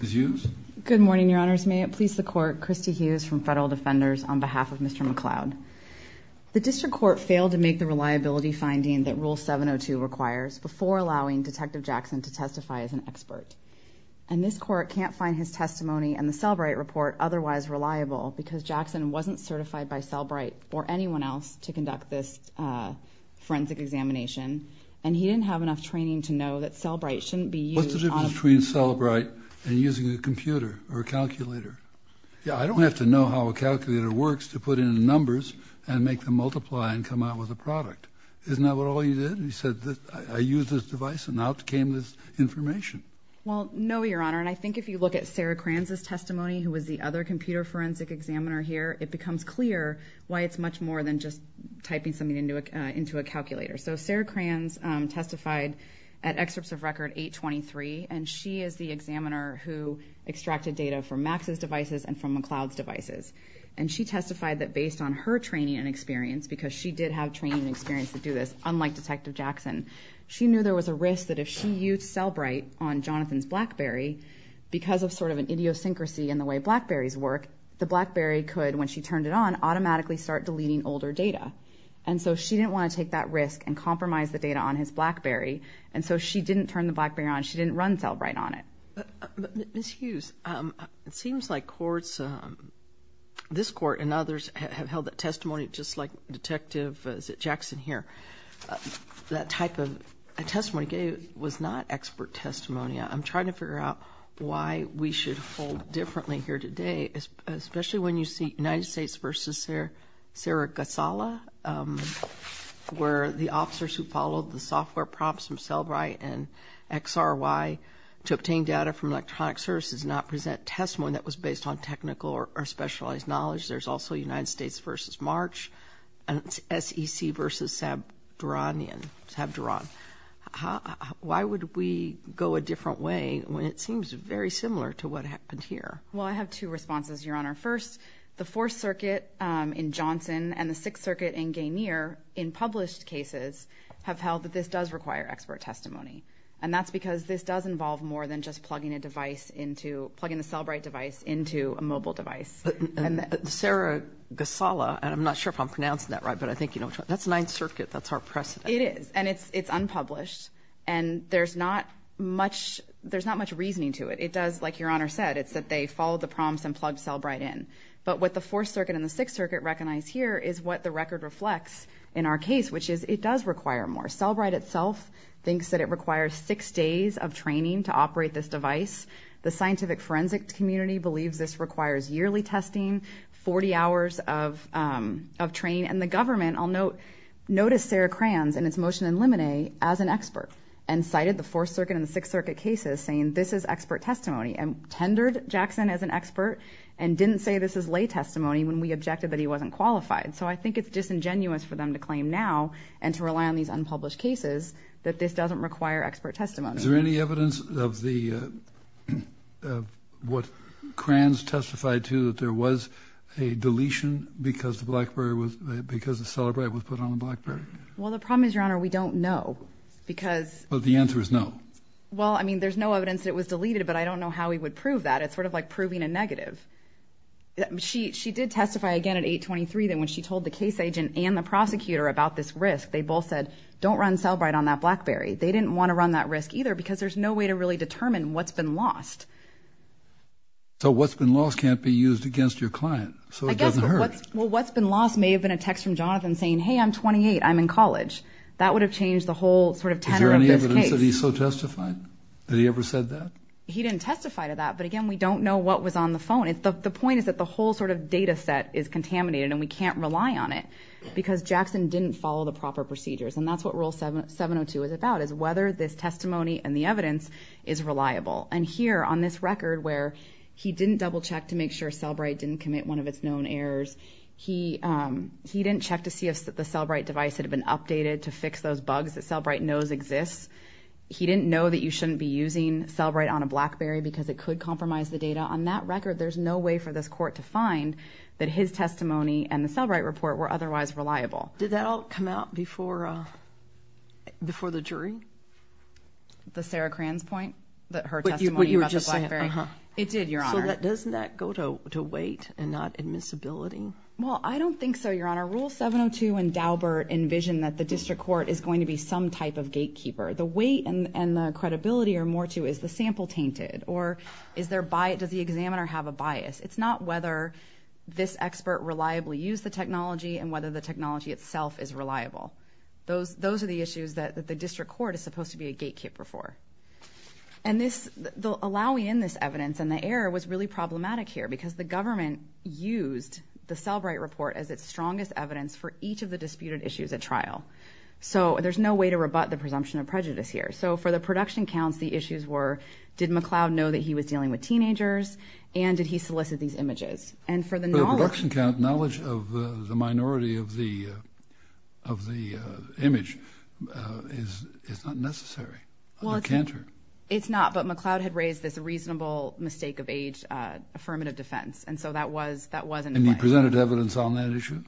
The district court failed to make the reliability finding that rule 702 requires before allowing detective Jackson to testify as an expert. And this court can't find his testimony and the Sellbright report otherwise reliable because Jackson wasn't certified by Sellbright or anyone else to conduct this forensic examination and he didn't have enough training to know that Sellbright shouldn't be used on a computer. What's the difference between Sellbright and using a computer or a calculator? I don't have to know how a calculator works to put in numbers and make them multiply and come out with a product. Isn't that what all you did? You said I used this device and out came this information. Well, no, Your Honor, and I think if you look at Sarah Kranz's testimony, who was the other computer forensic examiner here, it becomes clear why it's much more than just typing something into a calculator. So Sarah Kranz testified at excerpts of record 823 and she is the examiner who extracted data from Max's devices and from McLeod's devices. And she testified that based on her training and experience, because she did have training and experience to do this, unlike detective Jackson, she knew there was a risk that if she used Sellbright on Jonathan's BlackBerry, because of sort of an idiosyncrasy in the way BlackBerrys work, the BlackBerry could, when she turned it on, automatically start deleting older data. And so she didn't want to take that risk and compromise the data on his BlackBerry, and so she didn't turn the BlackBerry on. She didn't run Sellbright on it. Ms. Hughes, it seems like courts, this court and others, have held that testimony just like detective Jackson here. That type of testimony was not expert testimony. I'm trying to figure out why we should hold differently here today, especially when you see United States v. Sara Gasala, where the officers who followed the software prompts from Sellbright and XRY to obtain data from electronic services not present testimony that was based on technical or specialized knowledge. There's also United States v. March and SEC v. Sabduran. Why would we go a different way when it seems very similar to what happened here? Well, I have two responses, Your Honor. First, the Fourth Circuit in Johnson and the Sixth Circuit in Gainier, in published cases, have held that this does require expert testimony, and that's because this does involve more than just plugging the Sellbright device into a mobile device. Sara Gasala, and I'm not sure if I'm pronouncing that right, but I think you know which one. That's Ninth Circuit. That's our precedent. It is, and it's unpublished, and there's not much reasoning to it. It does, like Your Honor said, it's that they followed the prompts and plugged Sellbright in. But what the Fourth Circuit and the Sixth Circuit recognize here is what the record reflects in our case, which is it does require more. Sellbright itself thinks that it requires six days of training to operate this device. The scientific forensic community believes this requires yearly testing, 40 hours of training, and the government, I'll note, noticed Sara Kranz in its motion in Lemonet as an expert and cited the Fourth Circuit and the Sixth Circuit cases saying this is expert testimony and tendered Jackson as an expert and didn't say this is lay testimony when we objected that he wasn't qualified. So I think it's disingenuous for them to claim now and to rely on these unpublished cases that this doesn't require expert testimony. Is there any evidence of what Kranz testified to that there was a deletion because the Sellbright was put on the BlackBerry? Well, the problem is, Your Honor, we don't know because the answer is no. Well, I mean, there's no evidence that it was deleted, but I don't know how we would prove that. It's sort of like proving a negative. She did testify again at 823 that when she told the case agent and the prosecutor about this risk, they both said don't run Sellbright on that BlackBerry. They didn't want to run that risk either because there's no way to really determine what's been lost. So what's been lost can't be used against your client, so it doesn't hurt. Well, what's been lost may have been a text from Jonathan saying, hey, I'm 28, I'm in college. That would have changed the whole sort of tenor of this case. Is there any evidence that he so testified? Did he ever said that? He didn't testify to that, but, again, we don't know what was on the phone. The point is that the whole sort of data set is contaminated, and we can't rely on it because Jackson didn't follow the proper procedures, and that's what Rule 702 is about is whether this testimony and the evidence is reliable. And here on this record where he didn't double check to make sure Sellbright didn't commit one of its known errors, he didn't check to see if the Sellbright device had been updated to fix those bugs that Sellbright knows exists. He didn't know that you shouldn't be using Sellbright on a BlackBerry because it could compromise the data. On that record, there's no way for this court to find that his testimony and the Sellbright report were otherwise reliable. Did that all come out before the jury? The Sarah Cran's point, that her testimony about the BlackBerry? But you were just saying, uh-huh. It did, Your Honor. So doesn't that go to weight and not admissibility? Well, I don't think so, Your Honor. Rule 702 and Daubert envision that the district court is going to be some type of gatekeeper. The weight and the credibility are more to is the sample tainted, or does the examiner have a bias? It's not whether this expert reliably used the technology and whether the technology itself is reliable. Those are the issues that the district court is supposed to be a gatekeeper for. And allowing in this evidence and the error was really problematic here because the government used the Sellbright report as its strongest evidence for each of the disputed issues at trial. So there's no way to rebut the presumption of prejudice here. So for the production counts, the issues were did McCloud know that he was dealing with teenagers and did he solicit these images? For the production count, knowledge of the minority of the image is not necessary. Well, it's not, but McCloud had raised this reasonable mistake of age affirmative defense, and so that wasn't in line. And he presented evidence on that issue?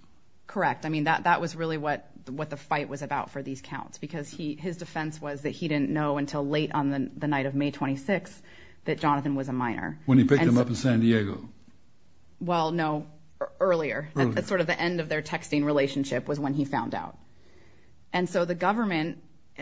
Correct. I mean, that was really what the fight was about for these counts because his defense was that he didn't know until late on the night of May 26th that Jonathan was a minor. When he picked him up in San Diego? Well, no, earlier. Earlier. That's sort of the end of their texting relationship was when he found out. And so the government,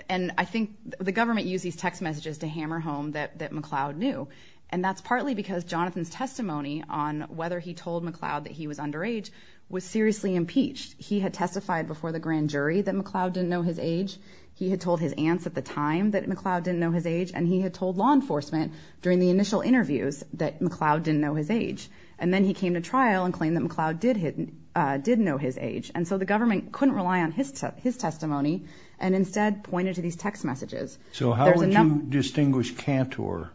and I think the government used these text messages to hammer home that McCloud knew, and that's partly because Jonathan's testimony on whether he told McCloud that he was underage was seriously impeached. He had testified before the grand jury that McCloud didn't know his age. He had told his aunts at the time that McCloud didn't know his age, and he had told law enforcement during the initial interviews that McCloud didn't know his age. And then he came to trial and claimed that McCloud did know his age. And so the government couldn't rely on his testimony and instead pointed to these text messages. So how would you distinguish Cantor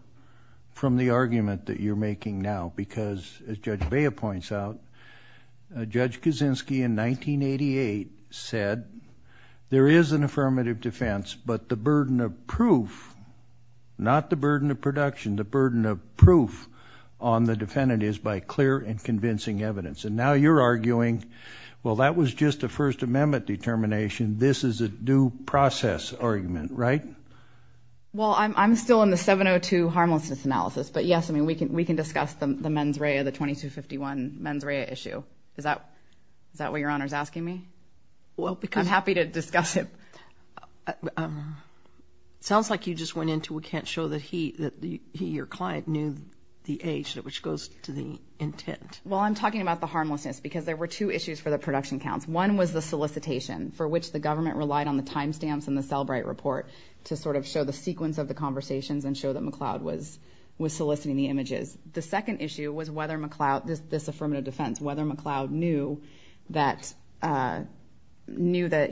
from the argument that you're making now? Because, as Judge Bea points out, Judge Kaczynski in 1988 said there is an affirmative defense, but the burden of proof, not the burden of production, the burden of proof on the defendant is by clear and convincing evidence. And now you're arguing, well, that was just a First Amendment determination. This is a due process argument, right? Well, I'm still in the 702 Harmlessness Analysis. But, yes, I mean, we can discuss the mens rea, the 2251 mens rea issue. Is that what Your Honor is asking me? Well, because— I'm happy to discuss it. It sounds like you just went into we can't show that he, your client, knew the age, which goes to the intent. Well, I'm talking about the harmlessness because there were two issues for the production counts. One was the solicitation for which the government relied on the timestamps in the Selbright report to sort of show the sequence of the conversations and show that McLeod was soliciting the images. The second issue was whether McLeod, this affirmative defense, whether McLeod knew that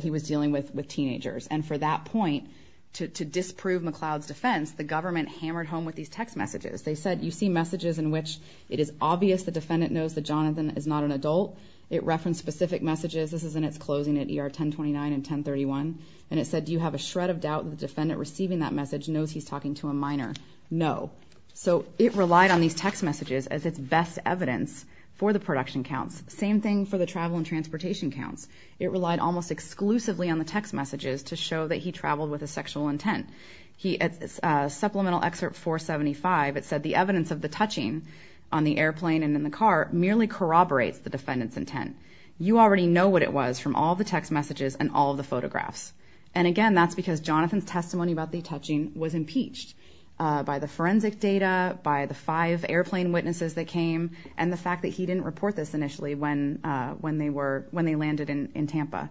he was dealing with teenagers. And for that point, to disprove McLeod's defense, the government hammered home with these text messages. They said, you see messages in which it is obvious the defendant knows that Jonathan is not an adult. It referenced specific messages. This is in its closing at ER 1029 and 1031. And it said, do you have a shred of doubt that the defendant receiving that message knows he's talking to a minor? No. So it relied on these text messages as its best evidence for the production counts. Same thing for the travel and transportation counts. It relied almost exclusively on the text messages to show that he traveled with a sexual intent. Supplemental Excerpt 475, it said, the evidence of the touching on the airplane and in the car merely corroborates the defendant's intent. You already know what it was from all the text messages and all of the photographs. And again, that's because Jonathan's testimony about the touching was impeached by the forensic data, by the five airplane witnesses that came, and the fact that he didn't report this initially when they landed in Tampa.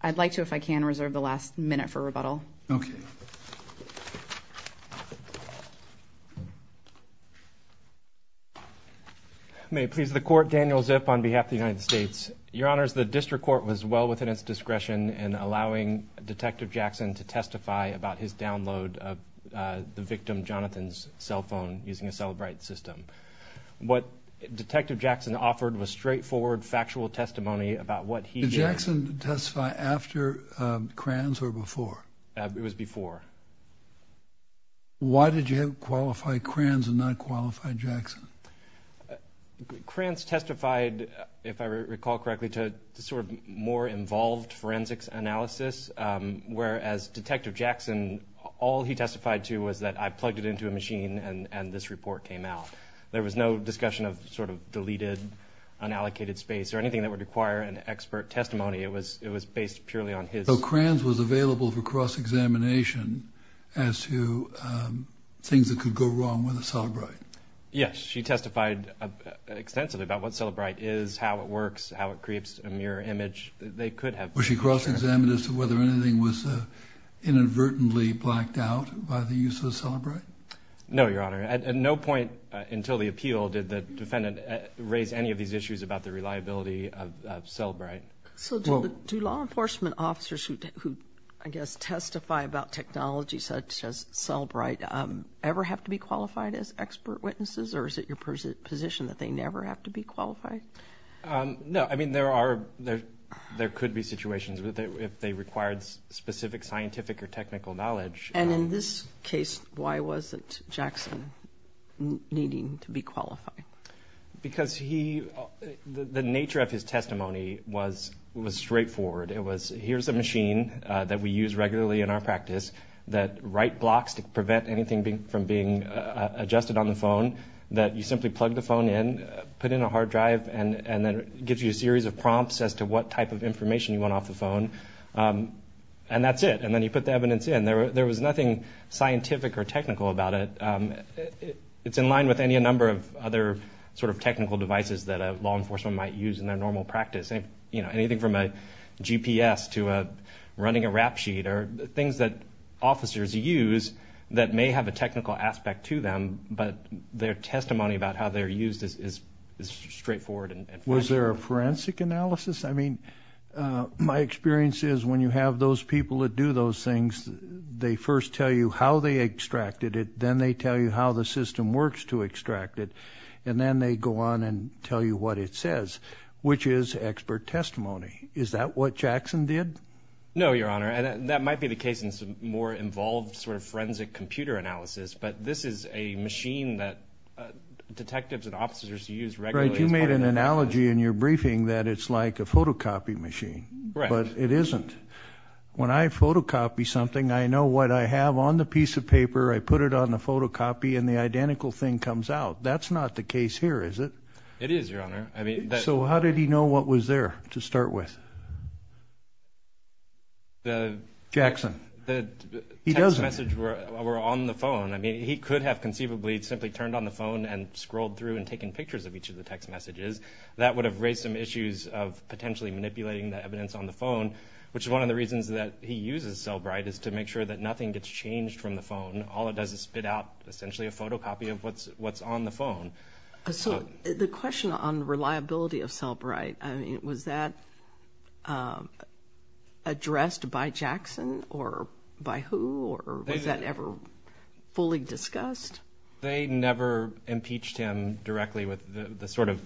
I'd like to, if I can, reserve the last minute for rebuttal. Okay. Thank you. May it please the court. Daniel Zip on behalf of the United States. Your honors, the district court was well within its discretion in allowing Detective Jackson to testify about his download of the victim, Jonathan's cell phone using a cell bright system. What Detective Jackson offered was straightforward, factual testimony about what he did. Did Jackson testify after Kranz or before? It was before. Why did you qualify Kranz and not qualify Jackson? Kranz testified, if I recall correctly, to sort of more involved forensics analysis, whereas Detective Jackson, all he testified to was that I plugged it into a machine and this report came out. There was no discussion of sort of deleted, unallocated space, or anything that would require an expert testimony. It was based purely on his. So Kranz was available for cross-examination as to things that could go wrong with a cell bright? Yes. She testified extensively about what cell bright is, how it works, how it creates a mirror image. They could have. Was she cross-examined as to whether anything was inadvertently blacked out by the use of a cell bright? No, Your Honor. At no point until the appeal did the defendant raise any of these issues about the reliability of cell bright. So do law enforcement officers who, I guess, testify about technology such as cell bright ever have to be qualified as expert witnesses, or is it your position that they never have to be qualified? No. I mean, there could be situations if they required specific scientific or technical knowledge. And in this case, why wasn't Jackson needing to be qualified? Because the nature of his testimony was straightforward. It was, here's a machine that we use regularly in our practice that write blocks to prevent anything from being adjusted on the phone, that you simply plug the phone in, put in a hard drive, and then it gives you a series of prompts as to what type of information you want off the phone, and that's it. And then you put the evidence in. There was nothing scientific or technical about it. It's in line with any number of other sort of technical devices that law enforcement might use in their normal practice. You know, anything from a GPS to running a rap sheet are things that officers use that may have a technical aspect to them, but their testimony about how they're used is straightforward. Was there a forensic analysis? I mean, my experience is when you have those people that do those things, they first tell you how they extracted it, then they tell you how the system works to extract it, and then they go on and tell you what it says, which is expert testimony. Is that what Jackson did? No, Your Honor. That might be the case in some more involved sort of forensic computer analysis, but this is a machine that detectives and officers use regularly as part of their practice. There's an analogy in your briefing that it's like a photocopy machine, but it isn't. When I photocopy something, I know what I have on the piece of paper. I put it on the photocopy, and the identical thing comes out. That's not the case here, is it? It is, Your Honor. So how did he know what was there to start with? Jackson. He doesn't. The text messages were on the phone. I mean, he could have conceivably simply turned on the phone and scrolled through and taken pictures of each of the text messages. That would have raised some issues of potentially manipulating the evidence on the phone, which is one of the reasons that he uses Cellbrite is to make sure that nothing gets changed from the phone. All it does is spit out essentially a photocopy of what's on the phone. So the question on reliability of Cellbrite, I mean, was that addressed by Jackson or by who? Or was that ever fully discussed? They never impeached him directly with the sort of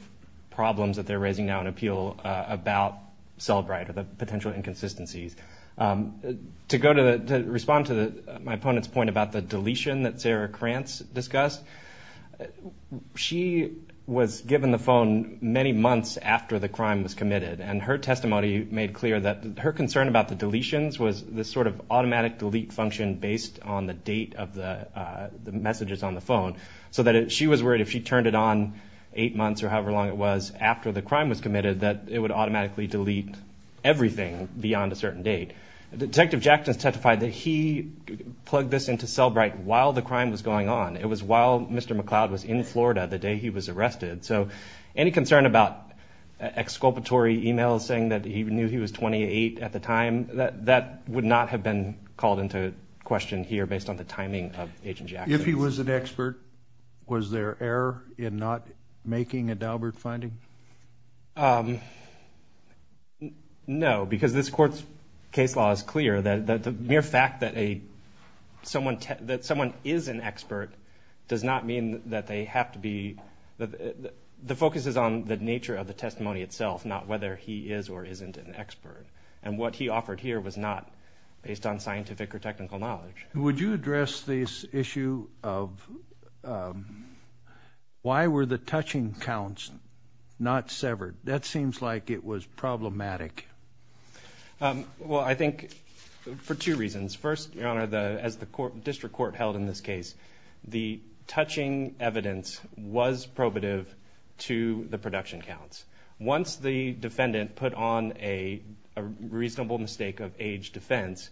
problems that they're raising now in appeal about Cellbrite or the potential inconsistencies. To respond to my opponent's point about the deletion that Sarah Krantz discussed, she was given the phone many months after the crime was committed, and her testimony made clear that her concern about the deletions was this sort of automatic delete function based on the date of the messages on the phone, so that she was worried if she turned it on eight months or however long it was after the crime was committed, that it would automatically delete everything beyond a certain date. Detective Jackson testified that he plugged this into Cellbrite while the crime was going on. It was while Mr. McCloud was in Florida the day he was arrested. So any concern about exculpatory emails saying that he knew he was 28 at the time, that would not have been called into question here based on the timing of Agent Jackson. If he was an expert, was there error in not making a Daubert finding? No, because this Court's case law is clear that the mere fact that someone is an expert does not mean that they have to be. The focus is on the nature of the testimony itself, not whether he is or isn't an expert, and what he offered here was not based on scientific or technical knowledge. Would you address this issue of why were the touching counts not severed? That seems like it was problematic. Well, I think for two reasons. First, Your Honor, as the District Court held in this case, the touching evidence was probative to the production counts. Once the defendant put on a reasonable mistake of age defense,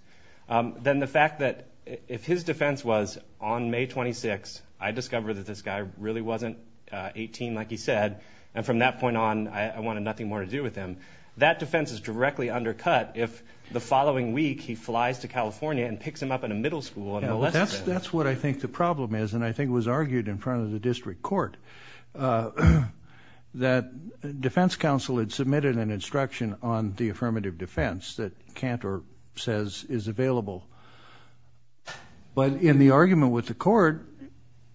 then the fact that if his defense was on May 26th, I discovered that this guy really wasn't 18 like he said, and from that point on I wanted nothing more to do with him, that defense is directly undercut if the following week he flies to California and picks him up in a middle school and molests him. That's what I think the problem is, and I think it was argued in front of the District Court, that defense counsel had submitted an instruction on the affirmative defense that Cantor says is available. But in the argument with the court,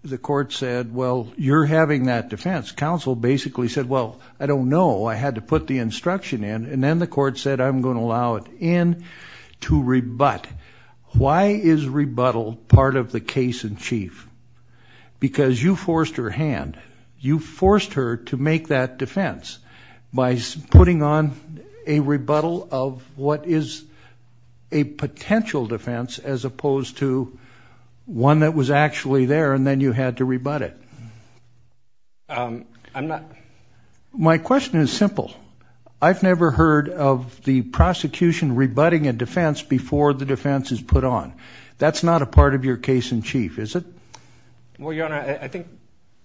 the court said, well, you're having that defense. Counsel basically said, well, I don't know. I had to put the instruction in, and then the court said I'm going to allow it in to rebut. Why is rebuttal part of the case in chief? Because you forced her hand. You forced her to make that defense by putting on a rebuttal of what is a potential defense as opposed to one that was actually there, and then you had to rebut it. My question is simple. I've never heard of the prosecution rebutting a defense before the defense is put on. That's not a part of your case in chief, is it? Well, Your Honor, I think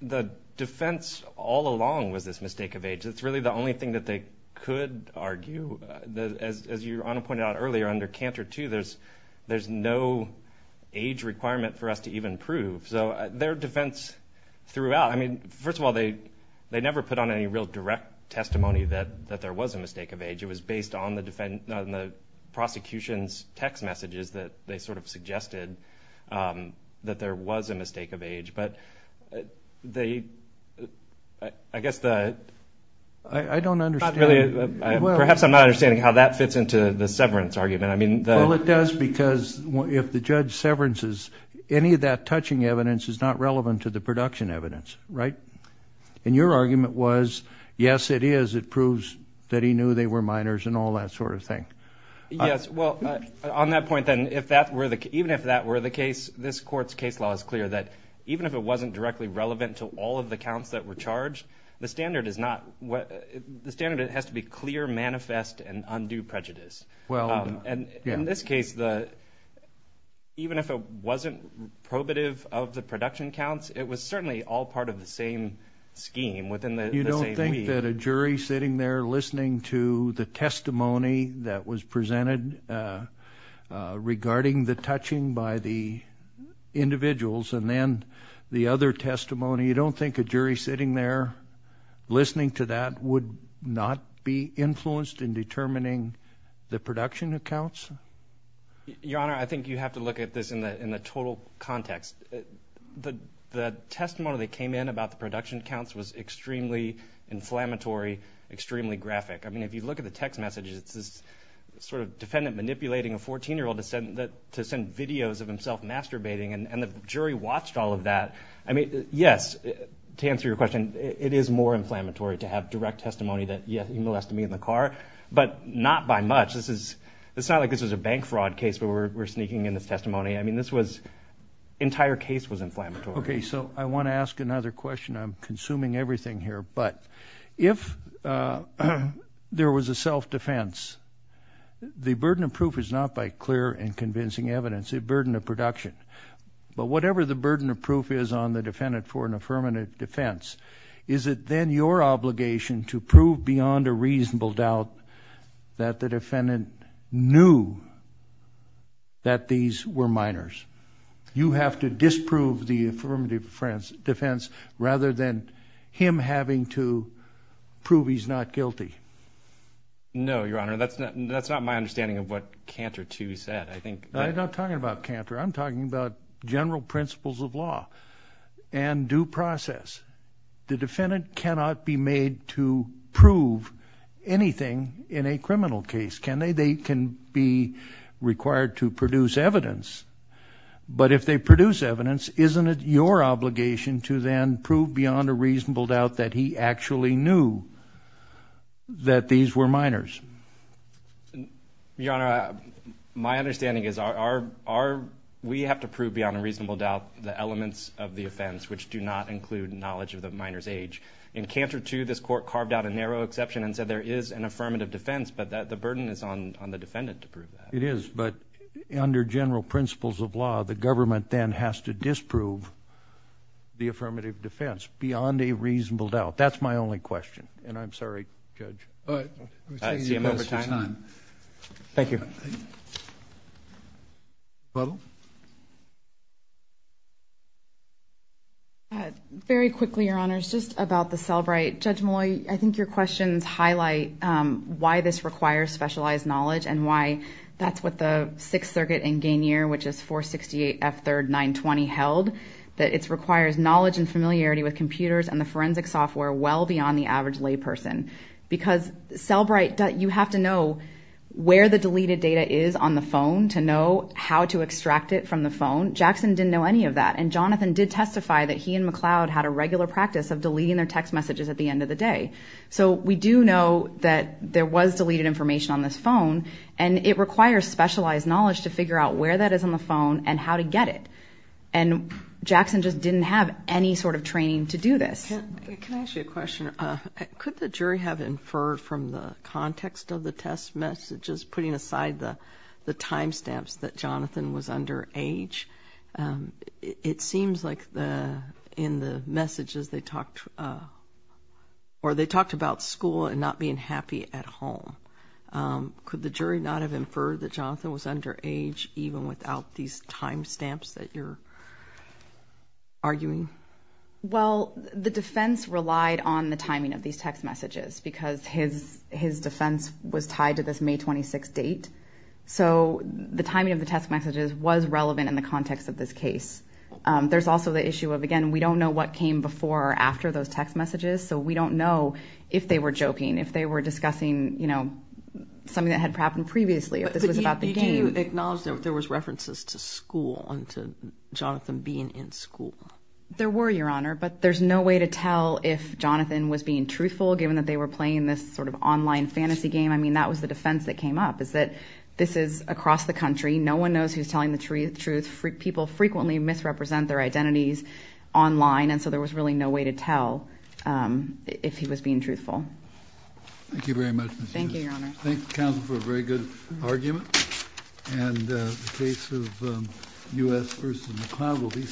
the defense all along was this mistake of age. It's really the only thing that they could argue. As Your Honor pointed out earlier, under Cantor II, there's no age requirement for us to even prove. So their defense throughout, I mean, first of all, they never put on any real direct testimony that there was a mistake of age. It was based on the prosecution's text messages that they sort of suggested that there was a mistake of age. But I guess the... I don't understand. Perhaps I'm not understanding how that fits into the severance argument. Well, it does because if the judge severances, any of that touching evidence is not relevant to the production evidence, right? And your argument was, yes, it is. It proves that he knew they were minors and all that sort of thing. Yes. Well, on that point then, even if that were the case, this court's case law is clear that even if it wasn't directly relevant to all of the counts that were charged, the standard has to be clear, manifest, and undo prejudice. And in this case, even if it wasn't probative of the production counts, it was certainly all part of the same scheme within the same week. You don't think that a jury sitting there listening to the testimony that was presented regarding the touching by the individuals and then the other testimony, you don't think a jury sitting there listening to that would not be influenced in determining the production accounts? Your Honor, I think you have to look at this in the total context. The testimony that came in about the production accounts was extremely inflammatory, extremely graphic. I mean, if you look at the text messages, it's this sort of defendant manipulating a 14-year-old to send videos of himself masturbating, and the jury watched all of that. I mean, yes, to answer your question, it is more inflammatory to have direct testimony that, yes, he molested me in the car, but not by much. This is not like this was a bank fraud case where we're sneaking in this testimony. I mean, this was entire case was inflammatory. Okay, so I want to ask another question. I'm consuming everything here, but if there was a self-defense, the burden of proof is not by clear and convincing evidence. It's a burden of production. But whatever the burden of proof is on the defendant for an affirmative defense, is it then your obligation to prove beyond a reasonable doubt that the defendant knew that these were minors? You have to disprove the affirmative defense rather than him having to prove he's not guilty. No, Your Honor. That's not my understanding of what Cantor II said. I'm not talking about Cantor. I'm talking about general principles of law and due process. The defendant cannot be made to prove anything in a criminal case. They can be required to produce evidence, but if they produce evidence, isn't it your obligation to then prove beyond a reasonable doubt that he actually knew that these were minors? Your Honor, my understanding is we have to prove beyond a reasonable doubt the elements of the offense which do not include knowledge of the minor's age. In Cantor II, this court carved out a narrow exception and said there is an affirmative defense, but the burden is on the defendant to prove that. It is, but under general principles of law, the government then has to disprove the affirmative defense beyond a reasonable doubt. That's my only question, and I'm sorry, Judge. All right. We're taking the appropriate time. Thank you. Butler? Very quickly, Your Honors, just about the Selbright. Judge Molloy, I think your questions highlight why this requires specialized knowledge and why that's what the Sixth Circuit in Gainier, which is 468 F. 3rd. 920, held, that it requires knowledge and familiarity with computers and the forensic software well beyond the average layperson. Because Selbright, you have to know where the deleted data is on the phone to know how to extract it from the phone. Jackson didn't know any of that, and Jonathan did testify that he and McLeod had a regular practice of deleting their text messages at the end of the day. So we do know that there was deleted information on this phone, and it requires specialized knowledge to figure out where that is on the phone and how to get it. And Jackson just didn't have any sort of training to do this. Can I ask you a question? Sure. Could the jury have inferred from the context of the test messages, putting aside the time stamps, that Jonathan was underage? It seems like in the messages they talked about school and not being happy at home. Could the jury not have inferred that Jonathan was underage even without these time stamps that you're arguing? Well, the defense relied on the timing of these text messages because his defense was tied to this May 26 date. So the timing of the text messages was relevant in the context of this case. There's also the issue of, again, we don't know what came before or after those text messages, so we don't know if they were joking, if they were discussing, you know, something that had happened previously, if this was about the game. Did you acknowledge that there was references to school and to Jonathan being in school? There were, Your Honor, but there's no way to tell if Jonathan was being truthful given that they were playing this sort of online fantasy game. I mean, that was the defense that came up is that this is across the country. No one knows who's telling the truth. People frequently misrepresent their identities online, and so there was really no way to tell if he was being truthful. Thank you very much, Ms. Hughes. Thank you, Your Honor. Thank you, counsel, for a very good argument.